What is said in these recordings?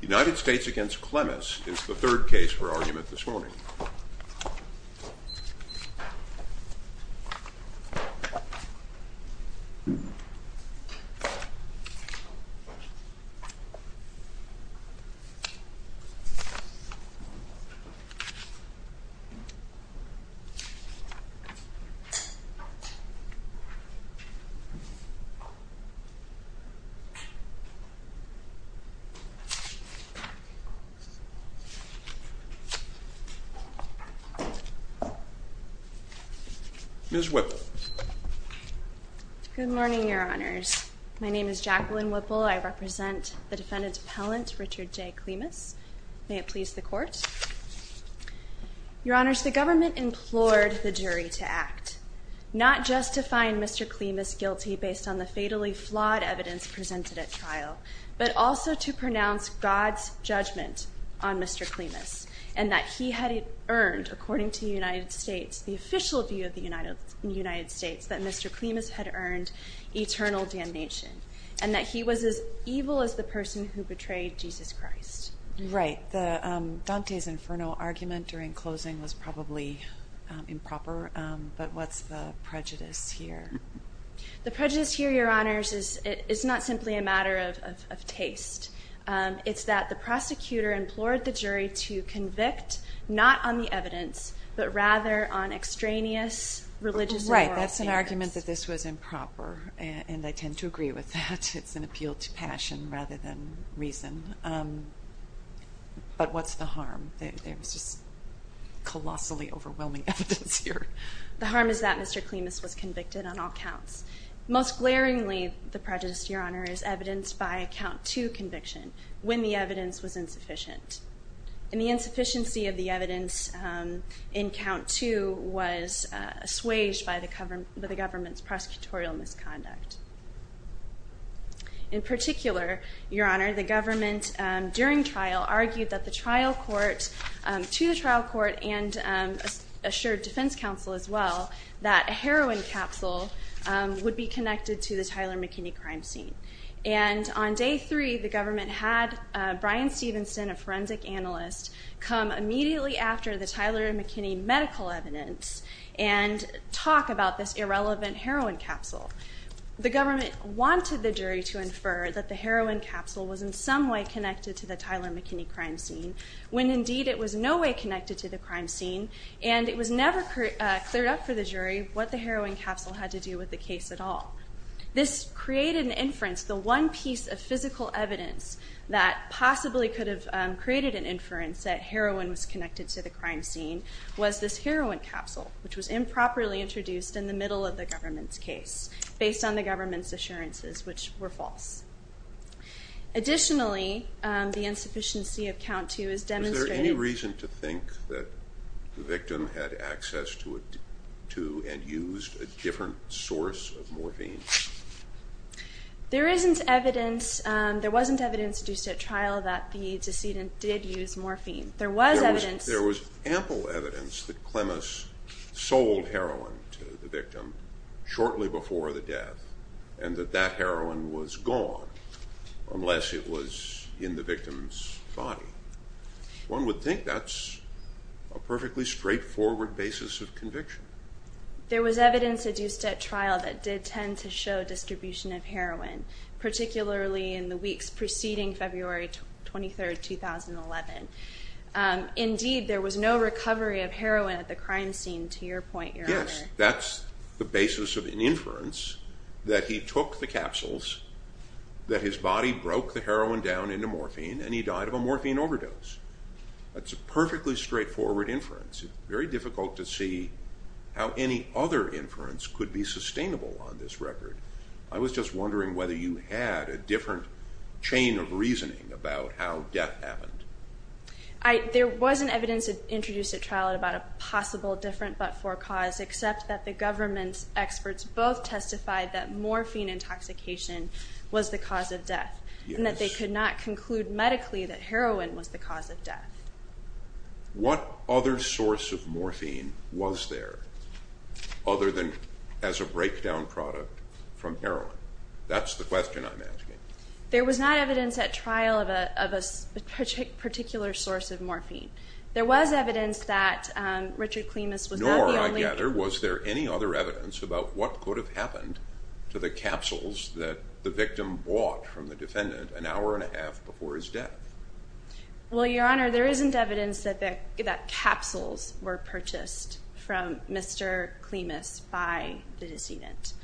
United States against Klemis is the third case for argument this morning. Ms. Whipple. Good morning, your honors. My name is Jacqueline Whipple. I represent the defendant's appellant, Richard J. Klemis. May it please the court. Your honors, the government implored the jury to act, not just to find Mr. Klemis guilty based on the fatally flawed evidence presented at trial, but also to pronounce God's judgment on Mr. Klemis, and that he had earned, according to the United States, the official view of the United States, that Mr. Klemis had earned eternal damnation, and that he was as evil as the person who betrayed Jesus Christ. Right, Dante's infernal argument during closing was probably improper, but what's the prejudice here? The prejudice here, your honors, is not simply a matter of taste. It's that the prosecutor implored the jury to convict not on the evidence, but rather on extraneous religious and moral errors. Right, that's an argument that this was improper, and I tend to agree with that. It's an appeal to passion rather than reason. But what's the harm? There's just colossally overwhelming evidence here. The harm is that Mr. Klemis was convicted on all counts. Most glaringly, the prejudice, your honors, is evidenced by a count two conviction, when the evidence was insufficient. And the insufficiency of the evidence in count two was assuaged by the government's prosecutorial misconduct. In particular, your honor, the government, during trial, argued that the trial court, to the trial court, and assured defense counsel as well, that a heroin capsule would be connected to the Tyler McKinney crime scene. And on day three, the government had Bryan Stevenson, a forensic analyst, come immediately after the Tyler McKinney medical evidence and talk about this irrelevant heroin capsule. The government wanted the jury to infer that the heroin capsule was in some way connected to the Tyler McKinney crime scene, when indeed it was no way connected to the crime scene. And it was never cleared up for the jury what the heroin capsule had to do with the case at all. This created an inference. The one piece of physical evidence that possibly could have created an inference that heroin was connected to the crime scene was this heroin capsule, which was improperly introduced in the middle of the government's case, based on the government's assurances, which were false. Additionally, the insufficiency of count two is demonstrated. Is there any reason to think that the victim had access to and used a different source of morphine? There isn't evidence. There wasn't evidence due to a trial that the decedent did use morphine. There was evidence. There was ample evidence that Clemmis sold heroin to the victim shortly before the death, and that that heroin was gone, unless it was in the victim's body. One would think that's a perfectly straightforward basis of conviction. There was evidence adduced at trial that did tend to show distribution of heroin, particularly in the weeks preceding February 23, 2011. Indeed, there was no recovery of heroin at the crime scene, to your point, Your Honor. Yes, that's the basis of an inference that he took the capsules, that his body broke the heroin down into morphine, and he died of a morphine overdose. That's a perfectly straightforward inference. Very difficult to see how any other inference could be sustainable on this record. I was just wondering whether you had a different chain of reasoning about how death happened. There wasn't evidence introduced at trial about a possible different but for cause, except that the government's experts both testified that morphine intoxication was the cause of death, and that they could not conclude medically that heroin was the cause of death. What other source of morphine was there, other than as a breakdown product from heroin? That's the question I'm asking. There was not evidence at trial of a particular source of morphine. There was evidence that Richard Clemus was not the only one. Nor, I gather, was there any other evidence about what could have happened to the capsules that the victim bought from the defendant an hour and a half before his death? Well, Your Honor, there isn't evidence that capsules were purchased from Mr. Clemus by the decedent.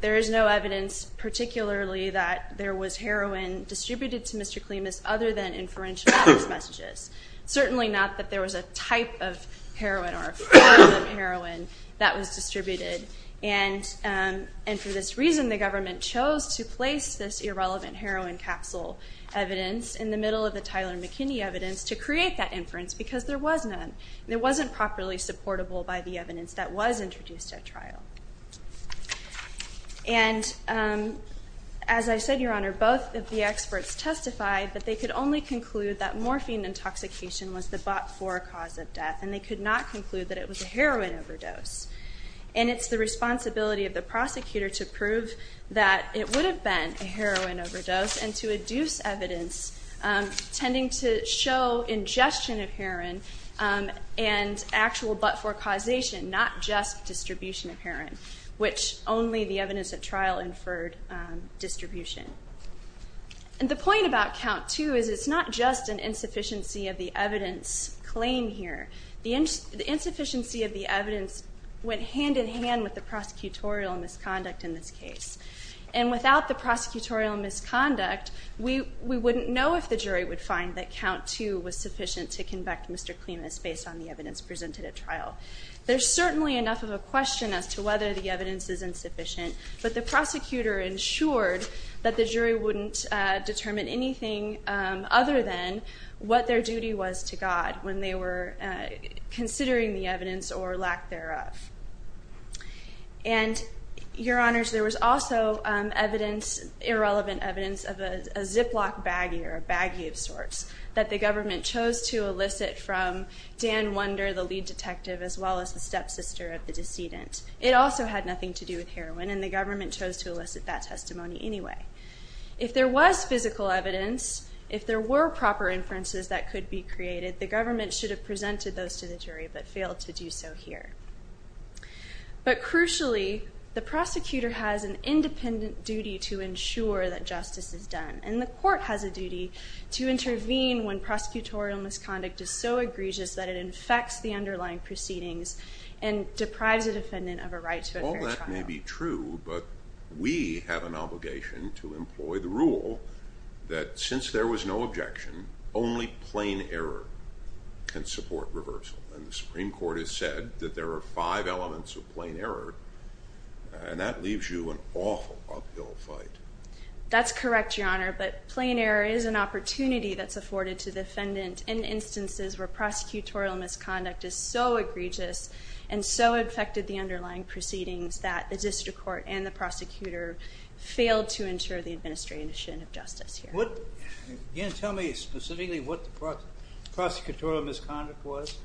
There is no evidence, particularly, that there was heroin distributed to Mr. Clemus other than inferential address messages. Certainly not that there was a type of heroin or a form of heroin that was distributed. And for this reason, the government chose to place this irrelevant heroin capsule evidence in the middle of the Tyler McKinney evidence to create that inference, because there was none. It wasn't properly supportable by the evidence that was introduced at trial. And as I said, Your Honor, both of the experts testified that they could only conclude that morphine intoxication was the bought for cause of death. And they could not conclude that it was a heroin overdose. And it's the responsibility of the prosecutor to prove that it would have been a heroin overdose and to adduce evidence, tending to show ingestion of heroin and actual bought for causation, not just distribution of heroin, which only the evidence at trial inferred distribution. And the point about count two is it's not just an insufficiency of the evidence claim here. The insufficiency of the evidence went hand-in-hand with the prosecutorial misconduct in this case. And without the prosecutorial misconduct, we wouldn't know if the jury would find that count two was sufficient to convict Mr. Clemus based on the evidence presented at trial. There's certainly enough of a question as to whether the evidence is insufficient. But the prosecutor ensured that the jury wouldn't determine anything other than what their duty was to God when they were considering the evidence or lack thereof. And your honors, there was also irrelevant evidence of a Ziploc baggie or a baggie of sorts that the government chose to elicit from Dan Wunder, the lead detective, as well as the stepsister of the decedent. It also had nothing to do with heroin. And the government chose to elicit that testimony anyway. If there was physical evidence, if there were proper inferences that could be created, the government should have presented those to the jury but failed to do so here. But crucially, the prosecutor has an independent duty to ensure that justice is done. And the court has a duty to intervene when prosecutorial misconduct is so egregious that it infects the underlying proceedings and deprives a defendant of a right to a fair trial. All that may be true, but we have an obligation to employ the rule that since there was no objection, only plain error can support reversal. And the Supreme Court has said that there are five elements of plain error. And that leaves you an awful uphill fight. That's correct, Your Honor. But plain error is an opportunity that's afforded to the defendant in instances where prosecutorial misconduct is so egregious and so infected the underlying proceedings that the district court and the prosecutor failed to ensure the administration of justice here. Again, tell me specifically what the prosecutorial misconduct was.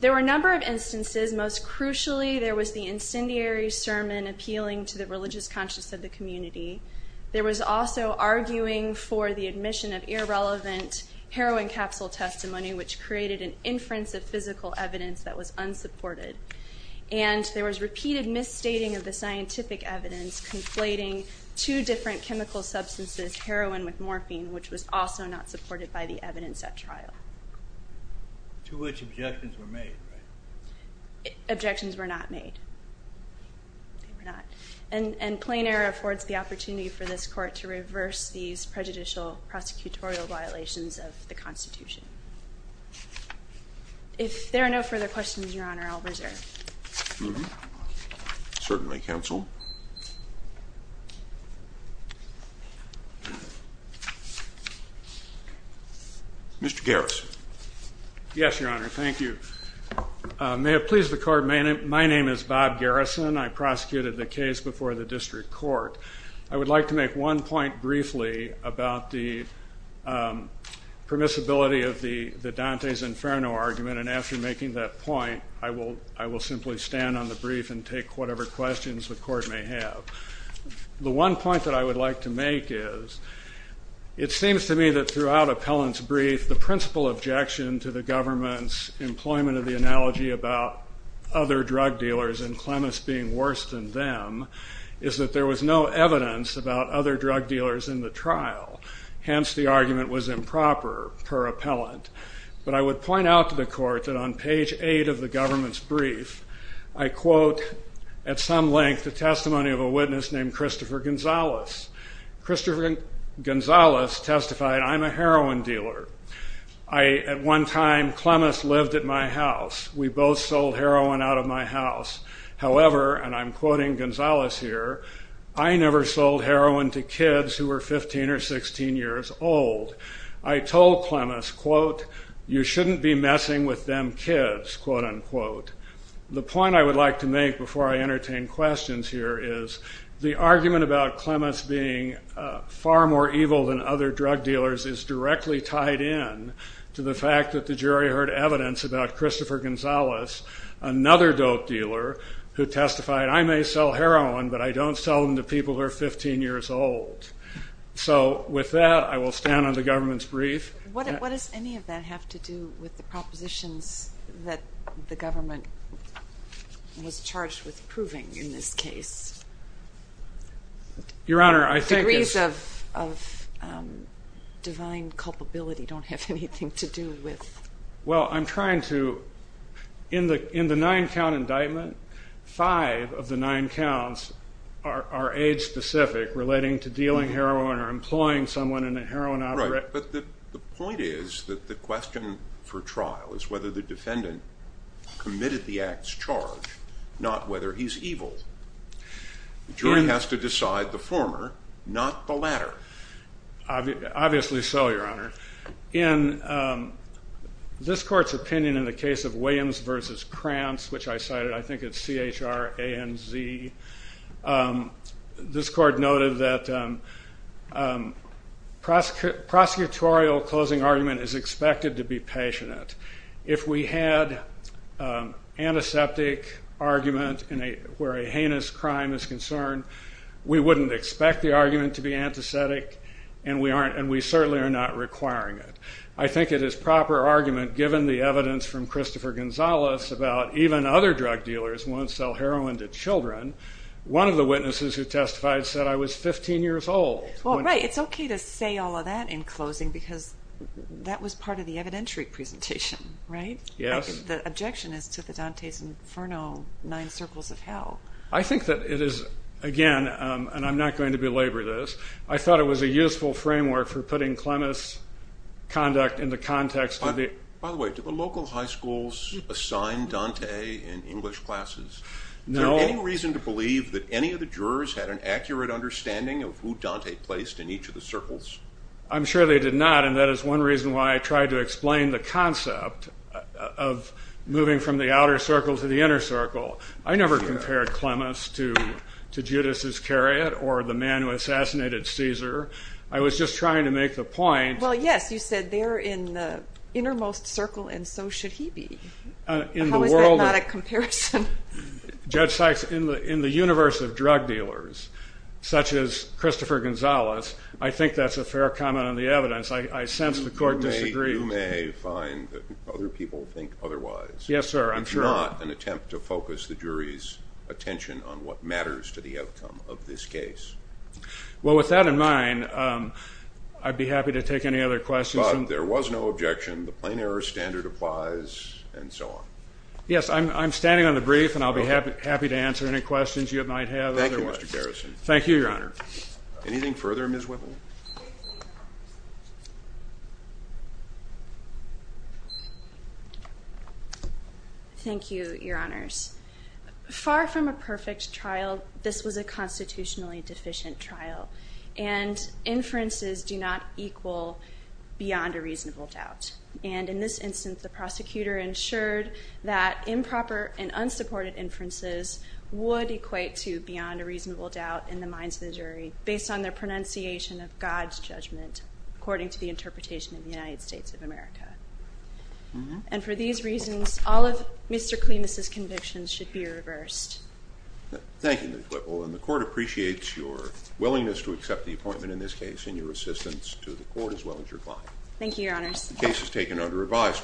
There were a number of instances. Most crucially, there was the incendiary sermon appealing to the religious conscience of the community. There was also arguing for the admission of irrelevant heroin capsule testimony, which created an inference of physical evidence that was unsupported. And there was repeated misstating of the scientific evidence conflating two different chemical substances, heroin with morphine, which was also not supported by the evidence at trial. To which objections were made, right? Objections were not made. And plain error affords the opportunity for this court to reverse these prejudicial prosecutorial violations of the Constitution. If there are no further questions, Your Honor, I'll reserve. Mm-hmm. Certainly, counsel. Mr. Garrison. Yes, Your Honor, thank you. May it please the court, my name is Bob Garrison. I prosecuted the case before the district court. I would like to make one point briefly about the permissibility of the Dante's Inferno argument. And after making that point, I will simply stand on the brief and take whatever questions the court may have. The one point that I would like to make is, it seems to me that throughout appellant's brief, the principal objection to the government's employment of the analogy about other drug dealers and Clemmis being worse than them is that there was no evidence about other drug dealers in the trial. Hence, the argument was improper per appellant. But I would point out to the court that on page 8 of the government's brief, I quote, at some length, the testimony of a witness named Christopher Gonzales. Christopher Gonzales testified, I'm a heroin dealer. At one time, Clemmis lived at my house. We both sold heroin out of my house. However, and I'm quoting Gonzales here, I never sold heroin to kids who were 15 or 16 years old. I told Clemmis, quote, you shouldn't be messing with them kids, quote unquote. The point I would like to make before I entertain questions here is, the argument about Clemmis being far more evil than other drug dealers is directly tied in to the fact that the jury heard evidence about Christopher Gonzales, another dope dealer, who testified, I may sell heroin, but I don't sell them to people who are 15 years old. So with that, I will stand on the government's brief. What does any of that have to do with the propositions that the government was charged with proving in this case? Your Honor, I think it's. Degrees of divine culpability don't have anything to do with. Well, I'm trying to, in the nine count indictment, five of the nine counts are age specific, relating to dealing heroin or employing someone in a heroin operation. Right, but the point is that the question for trial is whether the defendant committed the act's charge, not whether he's evil. The jury has to decide the former, not the latter. Obviously so, Your Honor. In this court's opinion in the case of Williams versus Krantz, which I cited, I think it's C-H-R-A-N-Z, this court noted that prosecutorial closing argument is expected to be patient. If we had antiseptic argument where a heinous crime is concerned, we wouldn't expect the argument to be antiseptic, and we certainly are not requiring it. I think it is proper argument, given the evidence from Christopher Gonzalez about even other drug dealers won't sell heroin to children. One of the witnesses who testified said I was 15 years old. Well, right, it's OK to say all of that in closing, because that was part of the evidentiary presentation, right? Yes. The objection is to the Dante's Inferno, Nine Circles of Hell. I think that it is, again, and I'm not going to belabor this, I thought it was a useful framework for putting Clemmis' conduct in the context of the- By the way, do the local high schools assign Dante in English classes? No. Is there any reason to believe that any of the jurors had an accurate understanding of who Dante placed in each of the circles? I'm sure they did not, and that is one reason why I tried to explain the concept of moving from the outer circle to the inner circle. I never compared Clemmis to Judas Iscariot, or the man who assassinated Caesar. I was just trying to make the point- Well, yes, you said they're in the innermost circle, and so should he be. How is that not a comparison? Judge Sykes, in the universe of drug dealers, such as Christopher Gonzalez, I think that's a fair comment on the evidence. I sense the court disagrees. You may find that other people think otherwise. Yes, sir, I'm sure. It's not an attempt to focus the jury's attention on what matters to the outcome of this case. Well, with that in mind, I'd be happy to take any other questions. There was no objection. The plain error standard applies, and so on. Yes, I'm standing on the brief, and I'll be happy to answer any questions you might have otherwise. Thank you, Mr. Garrison. Thank you, Your Honor. Anything further, Ms. Whipple? Thank you, Your Honors. Far from a perfect trial, this was a constitutionally deficient trial, and inferences do not equal beyond a reasonable doubt. And in this instance, the prosecutor ensured that improper and unsupported inferences would equate to beyond a reasonable doubt in the minds of the jury, based on their pronunciation of God's judgment, according to the interpretation of the United States of America. And for these reasons, all of Mr. Clemus's convictions should be reversed. Thank you, Ms. Whipple. And the court appreciates your willingness to accept the appointment, in this case, and your assistance to the court, as well as your client. Thank you, Your Honors. The case is taken under revised.